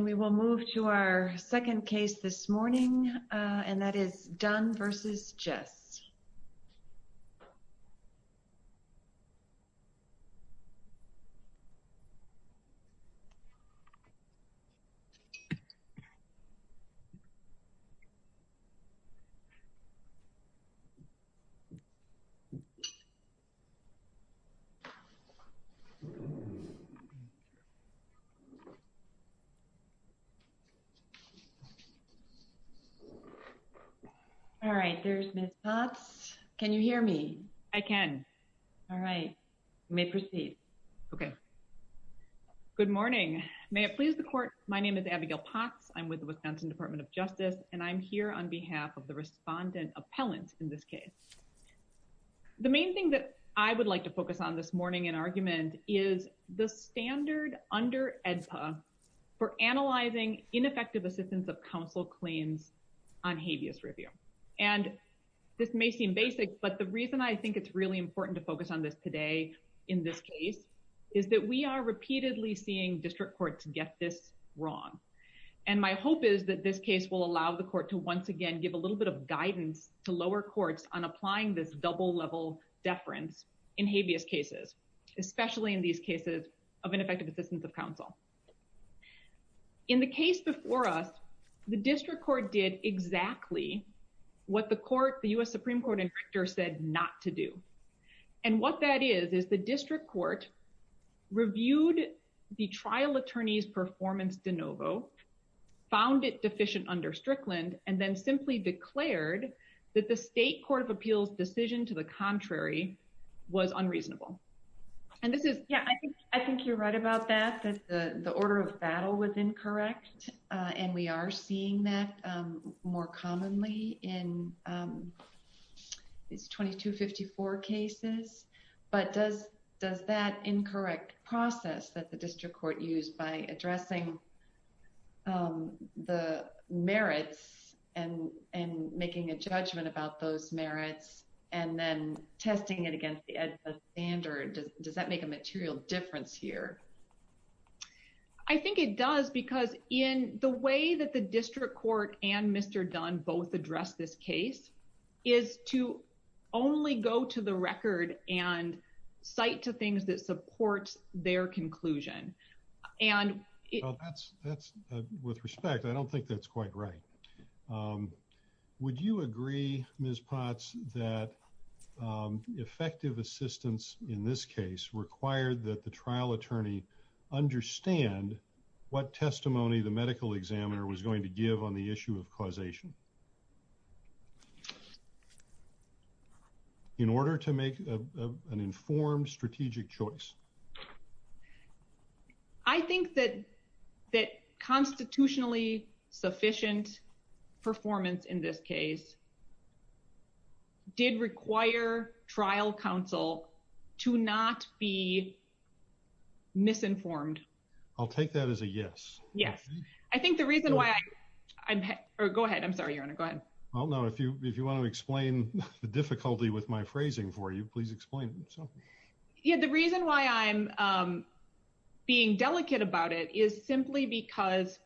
and we will move to our second case this morning and that is Dunn v. Jess. All right. There's Ms. Potts. Can you hear me? I can. All right. You may proceed. Okay. Good morning. May it please the court, my name is Abigail Potts. I'm with the Wisconsin Department of Justice and I'm here on behalf of the respondent appellant in this case. The main thing that I would like to focus on this morning in argument is the standard under AEDPA for analyzing ineffective assistance of counsel claims on habeas review. And this may seem basic, but the reason I think it's really important to focus on this today in this case is that we are repeatedly seeing district courts get this wrong. And my hope is that this case will allow the court to once again give a little bit of guidance to lower courts on applying this double level deference in habeas cases, especially in these cases where there is insufficient assistance of counsel. In the case before us, the district court did exactly what the court, the U.S. Supreme Court, said not to do. And what that is, is the district court reviewed the trial attorney's performance de novo, found it deficient under Strickland, and then simply declared that the state court of appeals decision to the contrary was unreasonable. Yeah, I think you're right about that, that the order of battle was incorrect. And we are seeing that more commonly in these 2254 cases. But does that incorrect process that the district court used by addressing the merits and making a decision on testing it against the standard, does that make a material difference here? I think it does, because in the way that the district court and Mr. Dunn both addressed this case is to only go to the record and cite to things that support their conclusion. And that's, that's with respect, I don't think that's quite right. Would you agree, Ms. Potts, that effective assistance in this case required that the trial attorney understand what testimony the medical examiner was going to give on the issue of causation in order to make an informed strategic choice? I think that, that constitutionally sufficient performance in this case did require trial counsel to not be misinformed. I'll take that as a yes. Yes. I think the reason why I'm, or go ahead, I'm sorry, your honor, go ahead. Well, no, if you, if you want to explain the difficulty with my phrasing for you, please explain. Yeah, the reason why I'm being delicate about it is simply because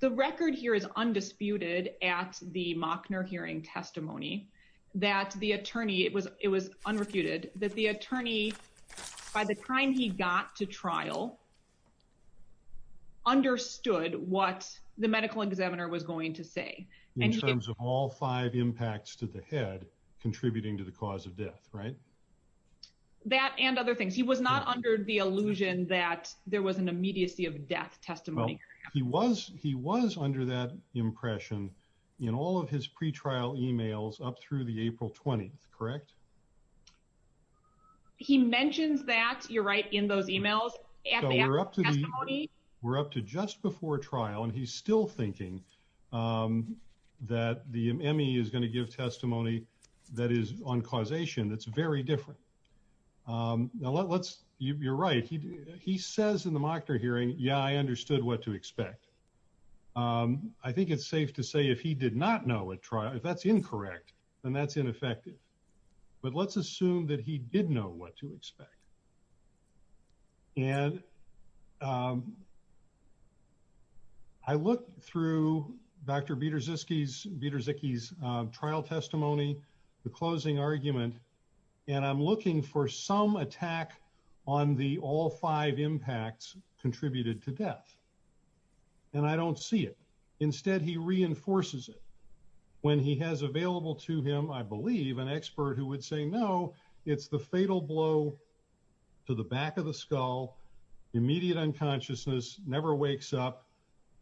the record here is undisputed at the Machner hearing testimony that the attorney, it was, it was unrefuted that the attorney, by the time he got to trial, understood what the medical examiner was going to say. In terms of all five impacts to the head contributing to the cause of death, right? That and other things. He was not under the illusion that there was an immediacy of death testimony. Well, he was, he was under that impression in all of his pre-trial emails up through the April 20th. Correct. He mentions that you're right in those emails. We're up to just before trial. And he's still thinking that the Emmy is going to give testimony that is on causation. That's very different. Now let's, you're right. He, he says in the Machner hearing, yeah, I understood what to expect. Um, I think it's safe to say if he did not know at trial, if that's incorrect, then that's ineffective. But let's assume that he did know what to expect. And, um, I looked through Dr. Beterzycki's trial testimony, the closing argument, and I'm looking for some attack on the all five impacts contributed to death. And I don't see it. Instead, he reinforces it when he has available to him. I believe an expert who would say, no, it's the fatal blow to the back of the skull. Immediate unconsciousness never wakes up.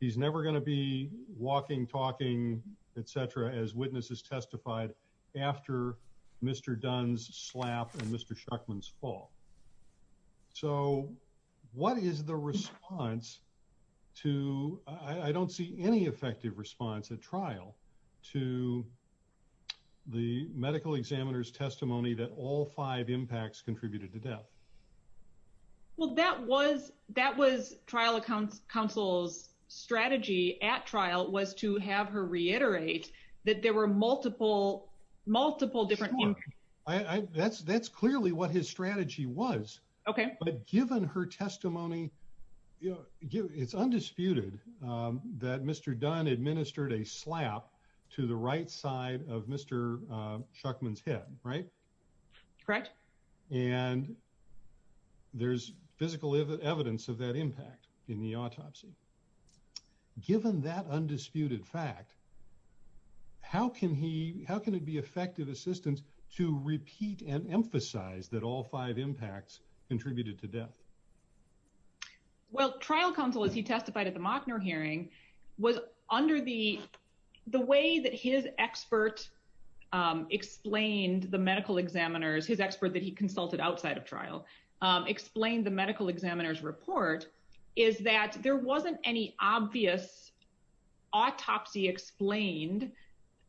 He's never going to be walking, talking, et cetera. As witnesses testified after Mr. Dunn's slap and Mr. Shuckman's fall. So what is the response to, I don't see any effective response at trial to the medical examiner's testimony that all five impacts contributed to death. Well, that was, that was trial accounts. Counsel's strategy at reiterate that there were multiple, multiple different things. I that's, that's clearly what his strategy was. Okay. But given her testimony, it's undisputed that Mr. Dunn administered a slap to the right side of Mr. Shuckman's head, right? Correct. And there's physical evidence of that impact in the autopsy. Given that undisputed fact, how can he, how can it be effective assistance to repeat and emphasize that all five impacts contributed to death? Well, trial counsel, as he testified at the Mockner hearing was under the, the way that his expert explained the medical examiners, his expert that he consulted outside of trial, explained the medical examiner's report is that there wasn't any obvious autopsy explained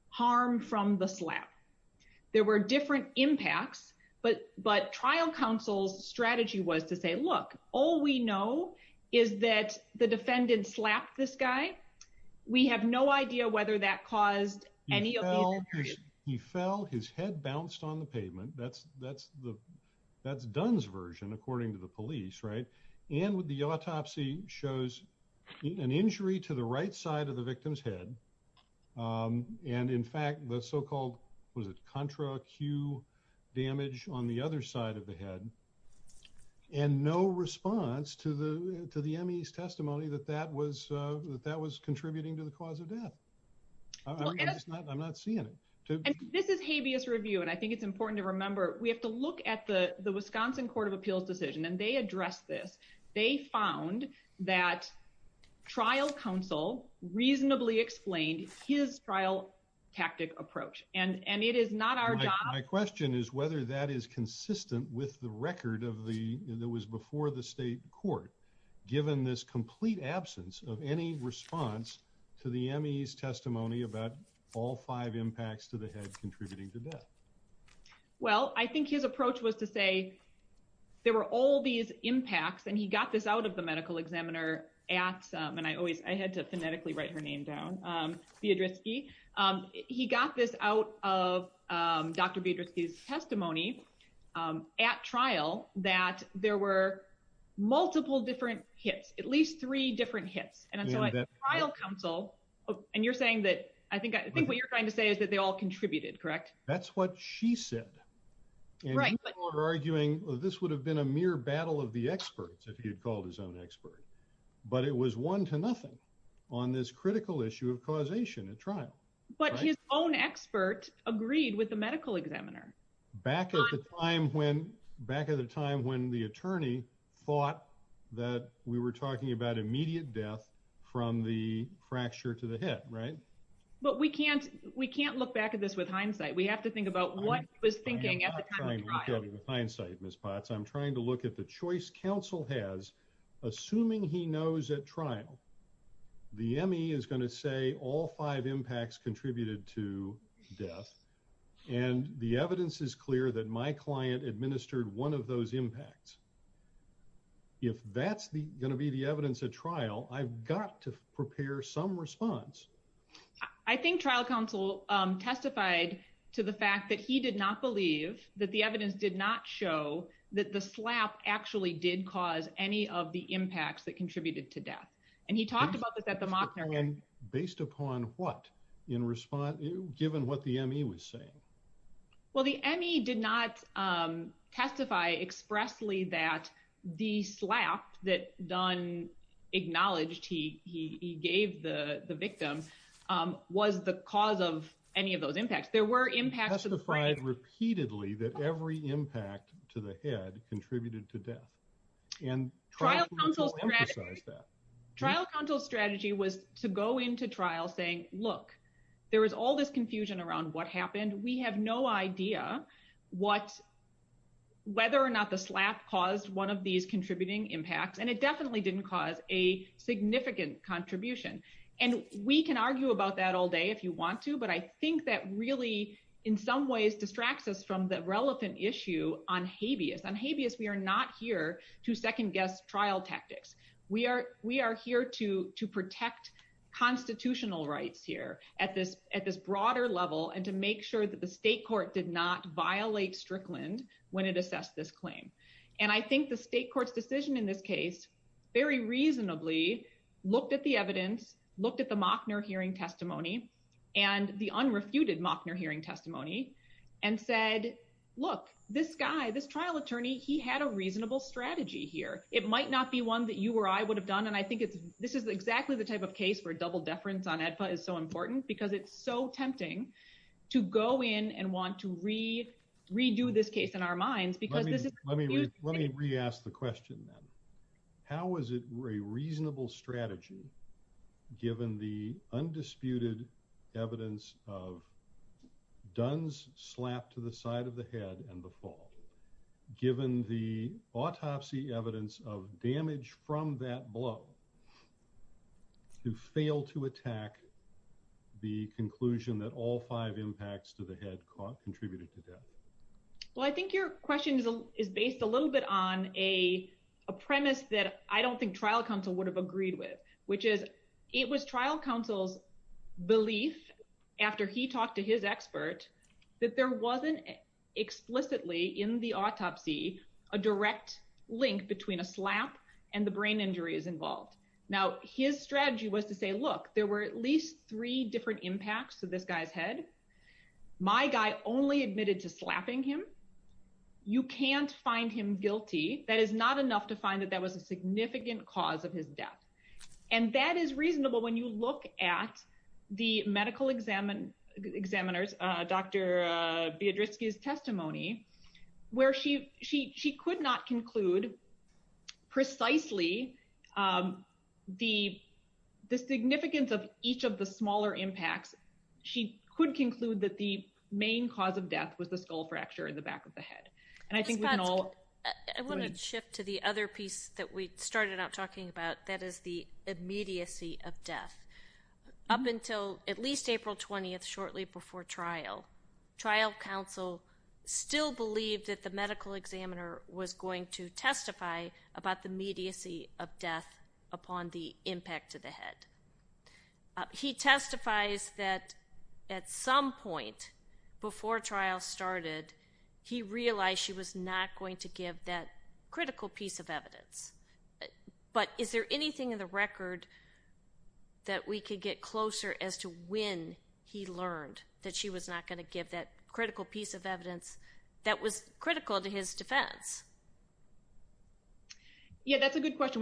harm from the slap. There were different impacts, but, but trial counsel's strategy was to say, look, all we know is that the defendant slapped this guy. We have no idea whether that caused any. He fell, his head bounced on the pavement. That's, that's the, that's Dunn's version, according to the police. Right. And with the autopsy shows an injury to the right side of the victim's head. And in fact, the so-called was it contra Q damage on the other side of the head and no response to the, to the Emmy's testimony that that was that that was contributing to the I'm not seeing it. This is habeas review. And I think it's important to remember, we have to look at the Wisconsin court of appeals decision and they address this. They found that trial counsel reasonably explained his trial tactic approach. And, and it is not our job. My question is whether that is consistent with the record of the, that was before the state court, given this complete absence of any response to the Emmy's about all five impacts to the head contributing to that. Well, I think his approach was to say there were all these impacts and he got this out of the medical examiner at, and I always, I had to phonetically write her name down. Be a risky. He got this out of Dr. Beatrice's testimony at trial that there were multiple different hits, at least three different hits. And trial counsel, and you're saying that, I think, I think what you're trying to say is that they all contributed, correct? That's what she said. Right. But we're arguing this would have been a mere battle of the experts if he had called his own expert, but it was one to nothing on this critical issue of causation at trial. But his own expert agreed with the medical examiner. Back at the time when, back at the time when the attorney thought that we were talking about immediate death from the fracture to the head, right? But we can't, we can't look back at this with hindsight. We have to think about what was thinking at the time of the trial. I'm not trying to look at it with hindsight, Ms. Potts. I'm trying to look at the choice counsel has, assuming he knows at trial, the Emmy is going to say all five impacts contributed to death. And the evidence is clear that my client administered one of those impacts. If that's going to be the evidence at trial, I've got to prepare some response. I think trial counsel testified to the fact that he did not believe that the evidence did not show that the slap actually did cause any of the impacts that contributed to death. And he talked about this at the mock hearing. Based upon what in response, given what the Emmy was saying. Well, the Emmy did not testify expressly that the slap that Don acknowledged he gave the victim was the cause of any of those impacts. There were impacts. Testified repeatedly that every impact to the head contributed to death. And trial counsel strategy was to go into trial saying, look, there was all this confusion around what happened. We have no idea what, whether or not the slap caused one of these contributing impacts. And it definitely didn't cause a significant contribution. And we can argue about that all day if you want to. But I think that really, in some ways, distracts us from the relevant issue on habeas. On habeas, we are not here to second guess trial tactics. We are here to protect constitutional rights here at this broader level and to make sure that the state court did not violate Strickland when it assessed this claim. And I think the state court's decision in this case, very reasonably, looked at the evidence, looked at the Mockner hearing testimony and the unrefuted Mockner hearing testimony and said, look, this guy, this trial attorney, he had a reasonable strategy here. It might not be one that you or I would have done. And I think this is exactly the type of case where double deference on AEDPA is so important because it's so tempting to go in and want to redo this case in our minds. Let me re-ask the question then. How is it a reasonable strategy given the undisputed evidence of Dunn's slap to the side of the head and the fall, given the autopsy evidence of damage from that blow to fail to attack the conclusion that all five impacts to the head contributed to death? Well, I think your question is based a little bit on a premise that I don't think trial counsel would have agreed with, which is it was trial counsel's belief after he talked to his expert that there wasn't explicitly in the autopsy a direct link between a slap and the brain injuries involved. Now, his strategy was to say, look, there were at least three different impacts to this guy's head. My guy only admitted to slapping him. You can't find him guilty. That is not enough to find that that was a significant cause of his death. And that is reasonable when you look at the medical examiners, Dr. Biedrski's testimony, where she could not conclude precisely the significance of each of the smaller impacts. She could conclude that the main cause of death was the skull fracture in the back of the is the immediacy of death. Up until at least April 20th, shortly before trial, trial counsel still believed that the medical examiner was going to testify about the immediacy of death upon the impact to the head. He testifies that at some point before trial started, he realized she was not going to give that critical piece of evidence. But is there anything in the record that we could get closer as to when he learned that she was not going to give that critical piece of evidence that was critical to his defense? Yeah, that's a good question.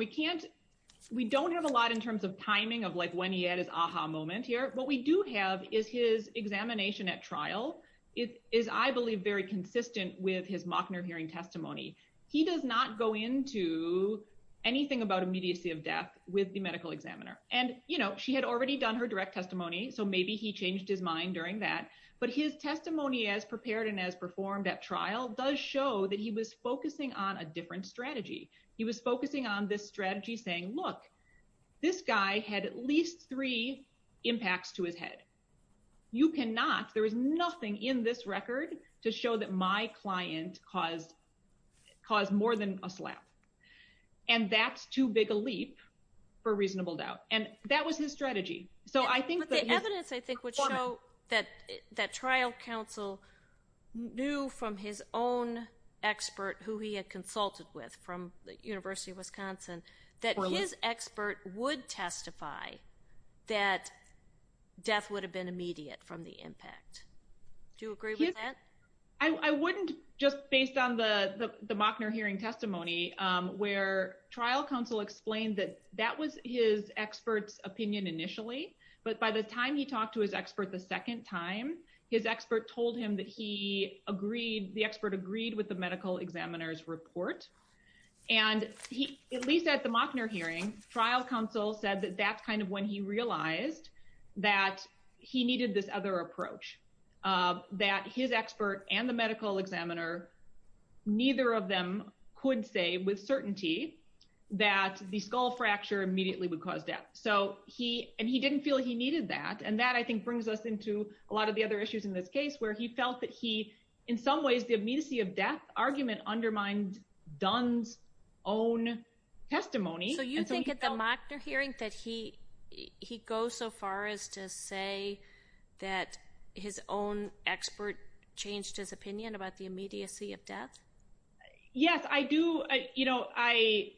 We don't have a lot in terms of timing of like when he had his aha moment here. What we do have is his examination at trial. It is, I believe, very consistent with his Mochner hearing testimony. He does not go into anything about immediacy of death with the medical examiner. And, you know, she had already done her direct testimony. So maybe he changed his mind during that. But his testimony as prepared and as performed at trial does show that he was focusing on a different strategy. He was focusing on this strategy saying, look, this guy had at least three impacts to his head. You cannot, there is nothing in this record to show that my client caused more than a slap. And that's too big a leap for reasonable doubt. And that was his strategy. But the evidence, I think, would show that trial counsel knew from his own expert, who he had consulted with from the University of Wisconsin, that his expert would testify that death would have been immediate from the impact. Do you agree with that? I wouldn't just based on the Mochner hearing testimony, where trial counsel explained that that was his expert's opinion initially. But by the time he talked to his expert the second time, his expert told him that he agreed, the expert agreed with the medical examiner's report. And he, at least at the Mochner hearing, trial counsel said that that's kind of when he realized that he needed this other approach, that his expert and the medical examiner, neither of them could say with certainty that the skull fracture immediately would cause death. So he, and he didn't feel he needed that. And that I think brings us into a lot of the other issues in this case, where he felt that he, in some ways, the immediacy of death argument undermined Dunn's own testimony. So you think at the Mochner hearing that he, he goes so far as to say that his own expert changed his opinion about the immediacy of death? Yes, I do. You know, I,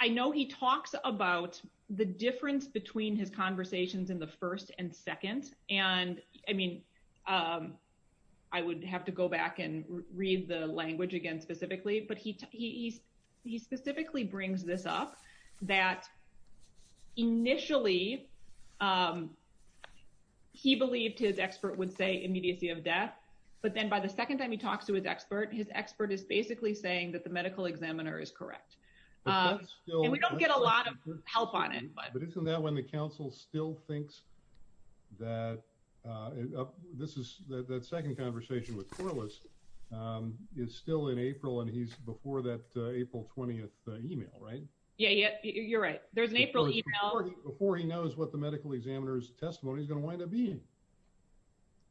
I know he talks about the difference between his conversations in the first and second. And I mean, I would have to go back and read the language again, specifically. But he, he specifically brings this up, that initially he believed his expert would say immediacy of death. But then by the second time he talks to his expert, his expert is basically saying that the medical examiner is correct. And we don't get a lot of help on it. But isn't that when the council still thinks that, this is the second conversation with Corliss is still in April, and he's before that April 20th email, right? Yeah, you're right. There's an April email. Before he knows what the medical examiner's testimony is going to wind up being.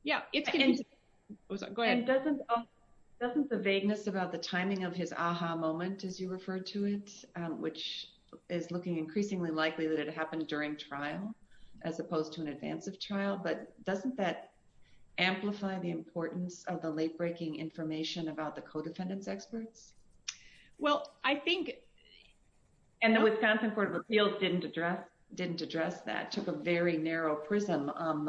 Yeah. Go ahead. Doesn't the vagueness about the timing of his aha moment, as you referred to it, which is looking increasingly likely that it happened during trial, as opposed to an advance of trial, but doesn't that amplify the importance of the late breaking information about the co-defendants experts? Well, I think, and the Wisconsin Court of Appeals didn't address, didn't address that took a very narrow prism on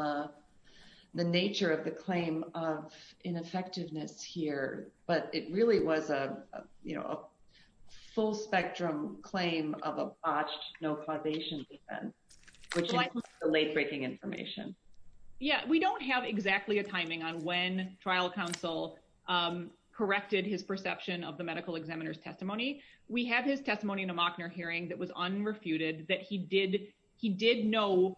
the nature of the claim of ineffectiveness here. But it really was a, a full spectrum claim of a botched no causation defense, which is the late breaking information. Yeah, we don't have exactly a timing on when trial counsel corrected his perception of the medical examiner's testimony. We have his testimony in a Mockner hearing that was unrefuted, that he did know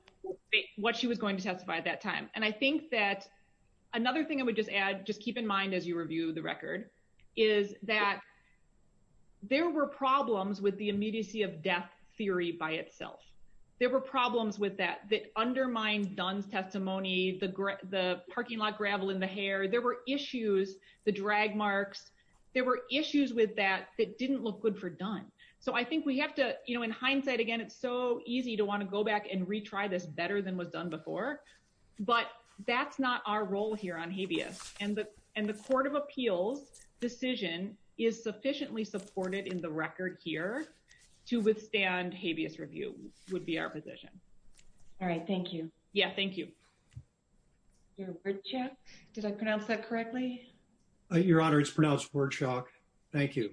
what she was going to testify at that time. And I think that another thing I would just add, just keep in mind as you review the record, is that there were problems with the immediacy of death theory by itself. There were problems with that, that undermined Dunn's testimony, the parking lot gravel in the hair. There were issues, the drag marks, there were issues with that that didn't look good for Dunn. So I think we have to, you know, in hindsight, again, it's so easy to want to go back and retry this better than was the case. So I think that the fact that this decision is sufficiently supported in the record here to withstand habeas review would be our position. All right. Thank you. Yeah. Thank you. Your word check. Did I pronounce that correctly? Your honor, it's pronounced word shock. Thank you.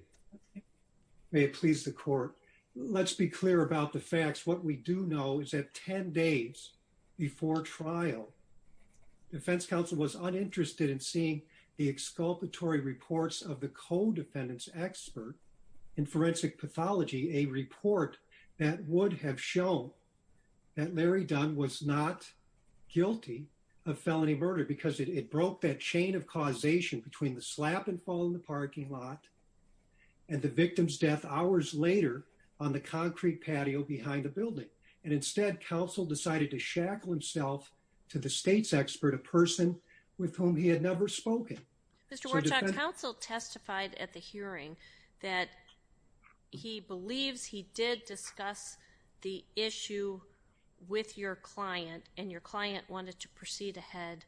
May it please the court. Let's be clear about the facts. What we do know is that 10 days before trial, defense counsel was uninterested in seeing the exculpatory reports of the co-defendants expert in forensic pathology, a report that would have shown that Larry Dunn was not guilty of felony murder because it broke that chain of causation between the slap and fall in the parking lot and the victim's death hours later on the concrete patio behind the building. And the defense counsel did not want to go ahead with the trial. He did not want to delay it. He did not want to shackle himself to the state's expert, a person with whom he had never spoken. Mr. Warchok, counsel testified at the hearing that he believes he did discuss the issue with your client and your client wanted to proceed ahead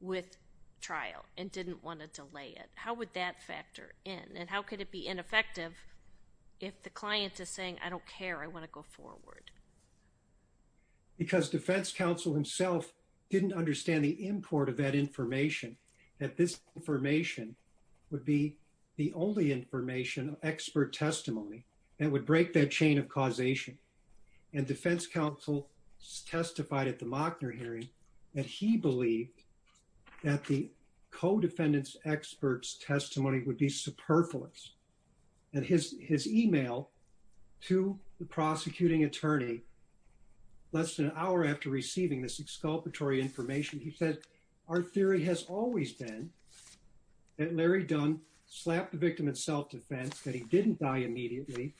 with trial and didn't want to delay it. How would that factor in and how could it be ineffective if the client is saying, I don't care, I want to go forward? Because defense counsel himself didn't understand the import of that information, that this information would be the only information, expert testimony that would break that chain of causation. And defense counsel testified at the Mockner hearing that he believed that the co-defendants expert's testimony would be superfluous. And his email to the prosecuting attorney, less than an hour after receiving this exculpatory information, he said, our theory has always been that Larry Dunn slapped the victim in self-defense, that he didn't die immediately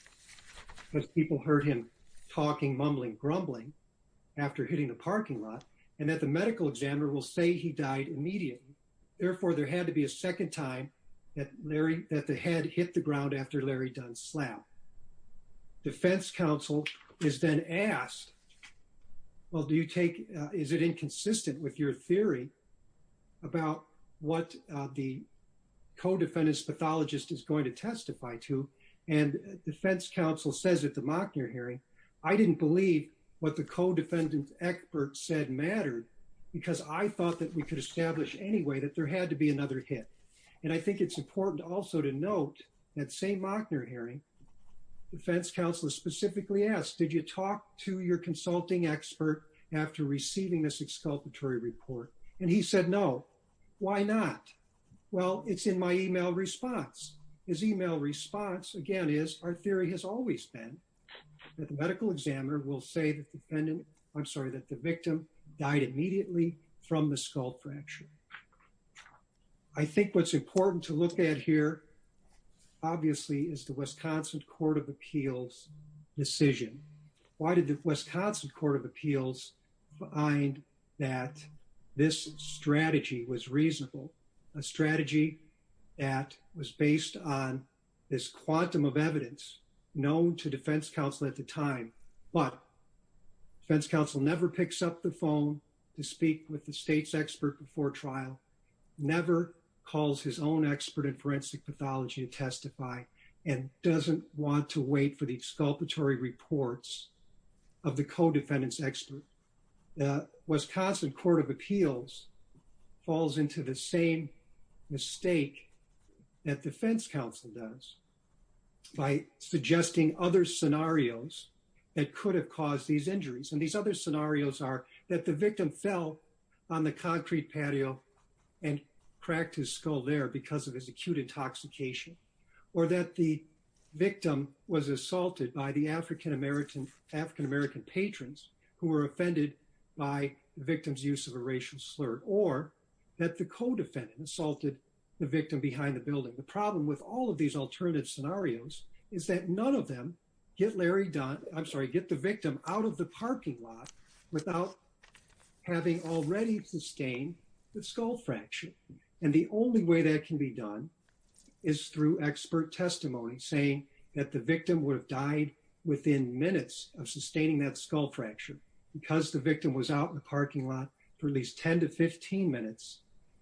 because people heard him talking, mumbling, grumbling after hitting the parking lot, and that the medical examiner will say he died immediately. Therefore, there had to be a second time that Larry, that the head hit the ground after Larry Dunn slapped. Defense counsel is then asked, well, do you take, is it inconsistent with your theory about what the co-defendants pathologist is going to testify to? And defense counsel says at the Mockner hearing, I didn't believe what the co-defendants expert said mattered because I thought that we could establish any way that there had to be another hit. And I think it's important also to note that same Mockner hearing, defense counsel specifically asked, did you talk to your consulting expert after receiving this exculpatory report? And he said, no, why not? Well, it's in my email response. His email response, again, is our theory has always been that the medical examiner will say that the defendant, I'm sorry, that the victim died immediately from the skull fracture. I think what's important to look at here, obviously, is the Wisconsin Court of Appeals decision. Why did the Wisconsin Court of Appeals find that this strategy was reasonable? A strategy that was based on this quantum of evidence known to defense counsel at the time, but defense counsel never picks up the phone to speak with the state's expert before trial, never calls his own expert in forensic pathology to testify, and doesn't want to wait for the exculpatory reports of the co-defendants expert. The Wisconsin Court of Appeals falls into the same mistake that defense counsel does by suggesting other scenarios that could have caused these injuries. And these other scenarios are that the victim fell on the concrete patio and cracked his skull there because of his acute intoxication, or that the victim was assaulted by the African-American patrons who were offended by the victim's use of a racial slur. That the co-defendant assaulted the victim behind the building. The problem with all of these alternative scenarios is that none of them get Larry Dunn, I'm sorry, get the victim out of the parking lot without having already sustained the skull fracture. And the only way that can be done is through expert testimony saying that the victim would have died within minutes of sustaining that skull fracture because the victim was out in the parking lot for at least 10 to 15 minutes,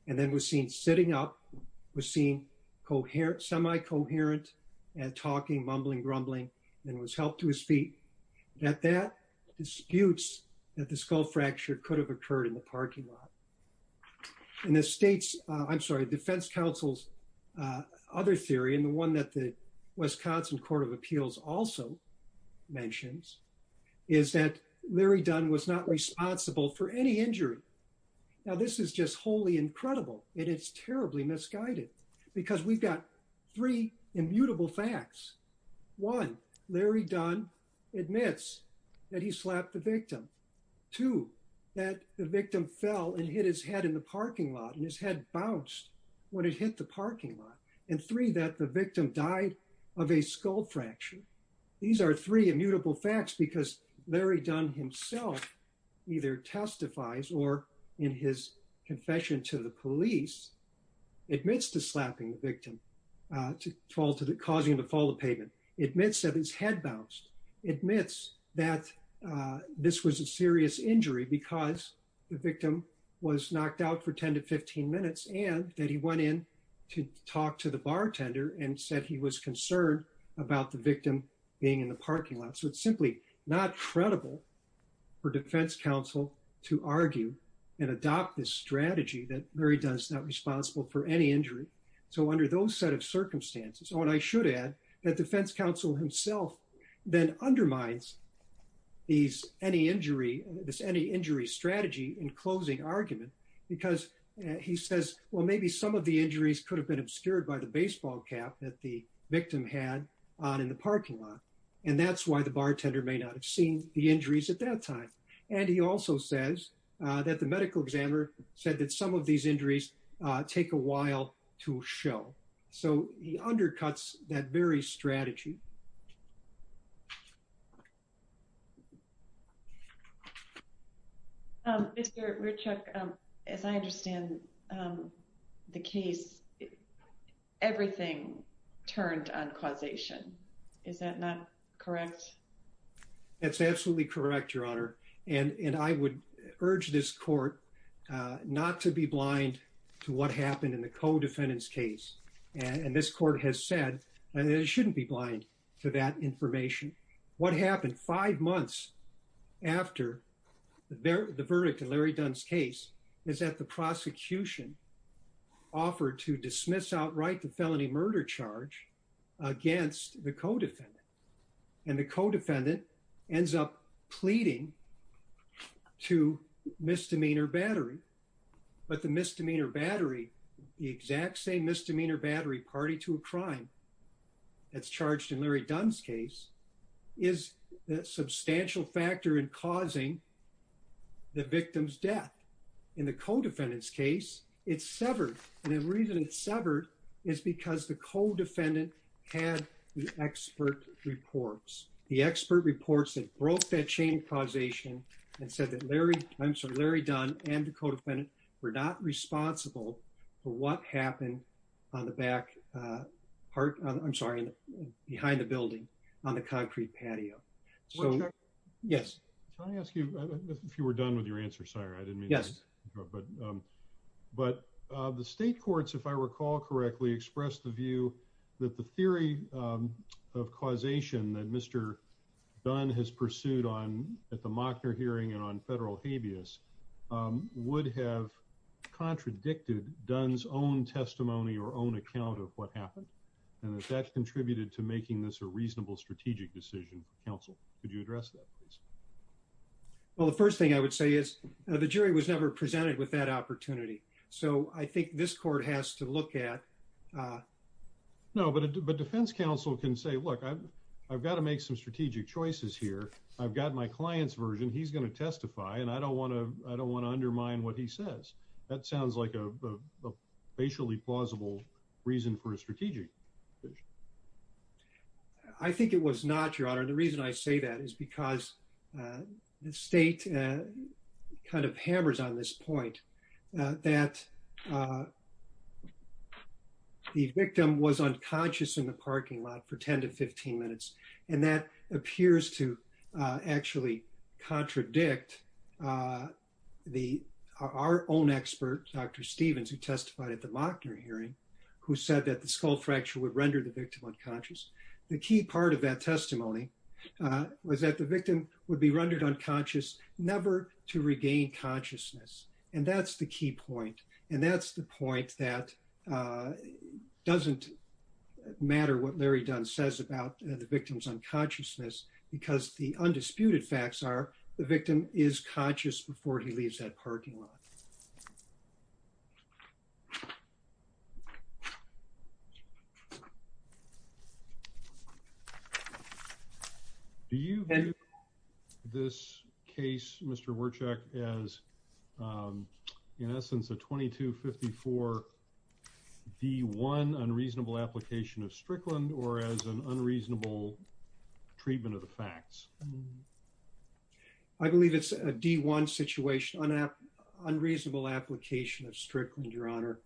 and then was seen sitting up, was seen semi-coherent and talking, mumbling, grumbling, and was helped to his feet. That that disputes that the skull fracture could have occurred in the parking lot. And the state's, I'm sorry, defense counsel's other theory, and the one that Wisconsin Court of Appeals also mentions, is that Larry Dunn was not responsible for any injury. Now this is just wholly incredible and it's terribly misguided because we've got three immutable facts. One, Larry Dunn admits that he slapped the victim. Two, that the victim fell and hit his head in the parking lot and his head bounced when it hit the parking lot. And three, that the victim died of a skull fracture. These are three immutable facts because Larry Dunn himself either testifies or in his confession to the police, admits to slapping the victim to cause him to fall to the pavement. Admits that his head bounced. Admits that this was a serious injury because the victim was knocked out for 10 to 15 minutes and that he went in to talk to the bartender and said he was concerned about the victim being in the parking lot. So it's simply not credible for defense counsel to argue and adopt this strategy that Larry Dunn's not responsible for any injury. So under those set of circumstances, and what I should add, that defense counsel himself then undermines this any injury strategy in closing argument because he says, well, maybe some of the injuries could have been obscured by the baseball cap that the victim had on in the parking lot. And that's why the bartender may not have seen the injuries at that time. And he also says that the medical examiner said that some of these injuries take a As I understand the case, everything turned on causation. Is that not correct? That's absolutely correct, Your Honor. And I would urge this court not to be blind to what happened in the co-defendant's case. And this court has said that it shouldn't be blind to that is that the prosecution offered to dismiss outright the felony murder charge against the co-defendant. And the co-defendant ends up pleading to misdemeanor battery. But the misdemeanor battery, the exact same misdemeanor battery party to a crime that's charged in Larry Dunn's case is a substantial factor in causing the victim's death. In the co-defendant's case, it's severed. And the reason it's severed is because the co-defendant had the expert reports. The expert reports that broke that chain causation and said that Larry Dunn and the co-defendant were not So, yes. Can I ask you, if you were done with your answer, sire, I didn't mean to interrupt, but the state courts, if I recall correctly, expressed the view that the theory of causation that Mr. Dunn has pursued on at the Mockner hearing and on federal habeas would have contradicted Dunn's own testimony or own account of what happened and that that contributed to counsel. Could you address that, please? Well, the first thing I would say is the jury was never presented with that opportunity. So, I think this court has to look at. No, but a defense counsel can say, look, I've got to make some strategic choices here. I've got my client's version. He's going to testify. And I don't want to undermine what he says. That sounds like a facially plausible reason for a strategic decision. I think it was not, Your Honor. The reason I say that is because the state kind of hammers on this point that the victim was unconscious in the parking lot for 10 to 15 minutes. And that appears to actually contradict our own expert, Dr. Stevens, who testified at the time. The key part of that testimony was that the victim would be rendered unconscious never to regain consciousness. And that's the key point. And that's the point that doesn't matter what Larry Dunn says about the victim's unconsciousness, because the undisputed facts are the victim is conscious before he leaves that parking lot. Do you view this case, Mr. Wierczak, as, in essence, a 2254-D-1 unreasonable application of Strickland, or as an unreasonable treatment of the facts? I believe it's a D-1 situation, unreasonable application of Strickland, Your Honor.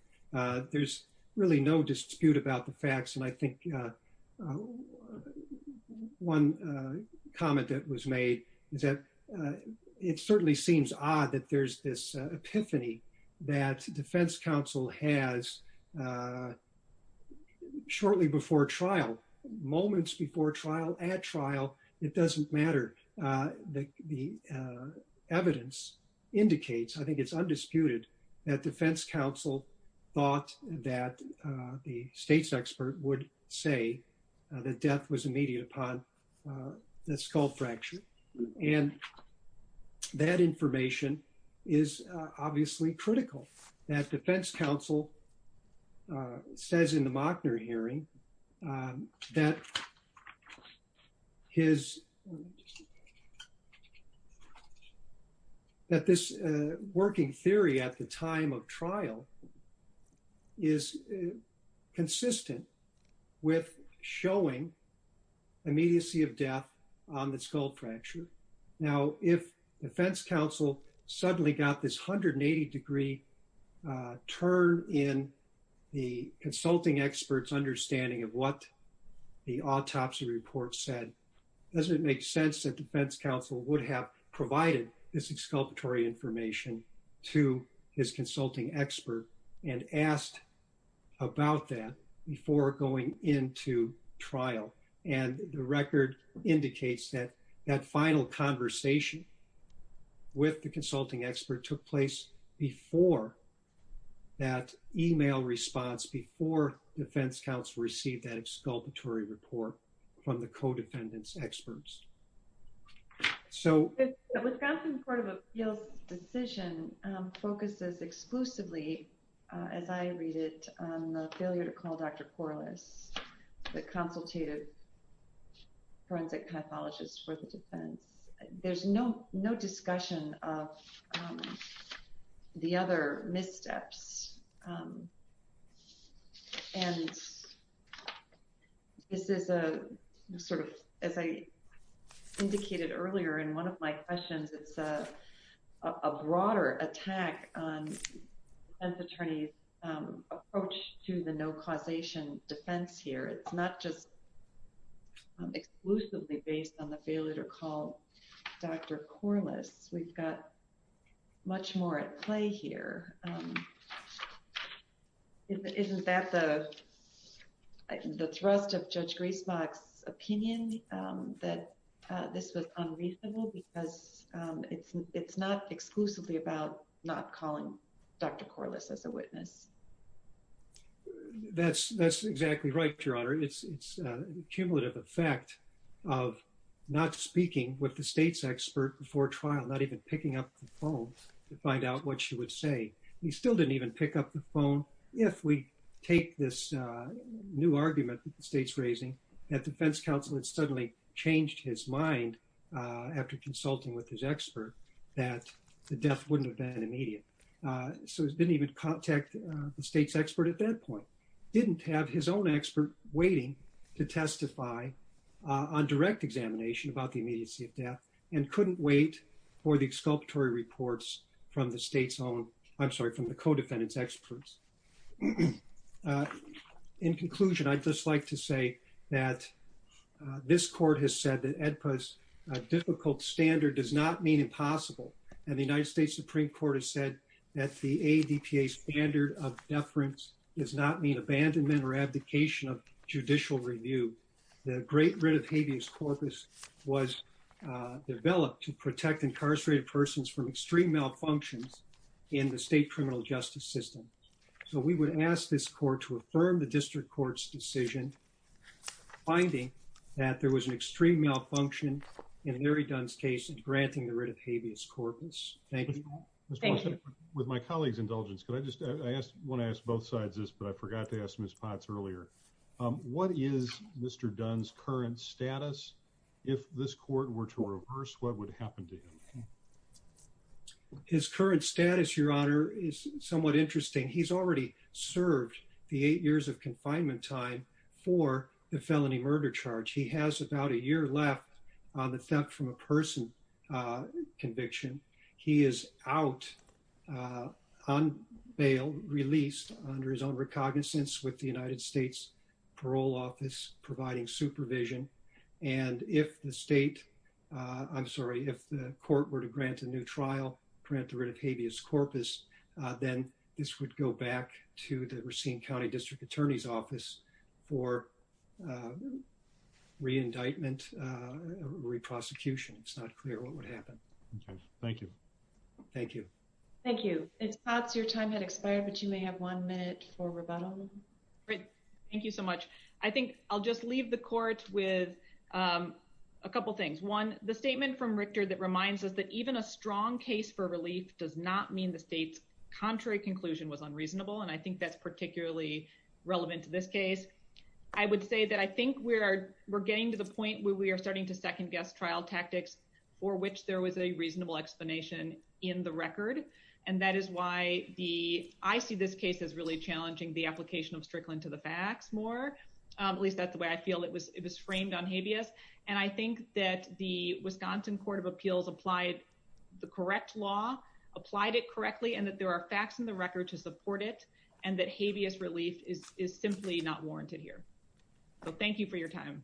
There's really no dispute about the facts. And I think one comment that was made is that it certainly seems odd that there's this epiphany that Defense Counsel has shortly before trial, moments before trial, at trial, it doesn't matter. The evidence indicates, I think it's undisputed, that Defense Counsel thought that the state's death was immediate upon the skull fracture. And that information is obviously critical. That Defense Counsel says in the Mockner hearing that this working theory at the time of trial is consistent with showing immediacy of death on the skull fracture. Now, if Defense Counsel suddenly got this 180-degree turn in the consulting expert's understanding of what the autopsy report said, does it make sense that Defense Counsel would have provided this exculpatory information to his consulting expert and asked about that before going into trial? And the record indicates that that final conversation with the consulting expert took place before that email response, before Defense Counsel received that exculpatory report from the co-defendant's experts. So... The Wisconsin Court of Appeals decision focuses exclusively, as I read it, on the failure to call Dr. Porlis, the consultative forensic pathologist for the defendants. There's no sort of, as I indicated earlier in one of my questions, it's a broader attack on the defense attorney's approach to the no causation defense here. It's not just exclusively based on the failure to call Dr. Porlis. We've got much more at play here. Isn't that the thrust of Judge Griesbach's opinion, that this was unreasonable? Because it's not exclusively about not calling Dr. Porlis as a witness. That's exactly right, Your Honor. It's cumulative effect of not speaking with the state's expert before trial, not even picking up the phone to find out what she would say. He still didn't even pick up the phone. If we take this new argument that the state's raising, that Defense Counsel had suddenly changed his mind after consulting with his expert, that the death wouldn't have been immediate. So he didn't even contact the state's expert at that point. Didn't have his own expert waiting to testify on direct examination about the immediacy of death, and couldn't wait for the exculpatory reports from the state's own, I'm sorry, from the co-defendant's experts. In conclusion, I'd just like to say that this court has said that AEDPA's difficult standard does not mean impossible, and the United States Supreme Court has said that the AEDPA's standard of deference does not mean abandonment or abdication of judicial review. The great writ of habeas corpus was developed to protect incarcerated persons from extreme malfunctions in the state criminal justice system. So we would ask this court to affirm the district court's decision, finding that there was an extreme malfunction in Larry Dunn's case in granting the writ of habeas corpus. Thank you. Thank you. With my colleague's indulgence, could I ask, I want to ask both sides this, but I forgot to ask Ms. Potts earlier. What is Mr. Dunn's current status? If this court were to reverse, what would happen to him? His current status, your honor, is somewhat interesting. He's already served the eight years of confinement time for the felony murder charge. He has about a year left on the theft from a person conviction. He is out on bail, released under his own recognizance with the United States parole office providing supervision. And if the state, I'm sorry, if the court were to grant a new trial, print the writ of habeas corpus, then this would go back to the Racine County District Attorney's office for re-indictment, re-prosecution. It's not clear what would happen. Thank you. Thank you. Thank you. Ms. Potts, your time had expired, but you may have one minute for rebuttal. Great. Thank you so much. I think I'll just leave the court with a couple things. One, the statement from Richter that reminds us that even a strong case for relief does not mean the state's contrary conclusion was unreasonable. And I think that's particularly relevant to this case. I would say that I think we're getting to the point where we are starting to second-guess trial tactics for which there was a reasonable explanation in the record. And that is why I see this case as really challenging the application of Strickland to the facts more, at least that's the way I feel it was framed on habeas. And I think that the Wisconsin Court of Appeals applied the correct law, applied it correctly, and that there are facts in the record to support it. And that habeas relief is simply not warranted here. So thank you for your time.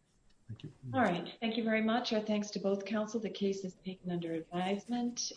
All right. Thank you very much. Our thanks to both counsel. The case is taken under advisement.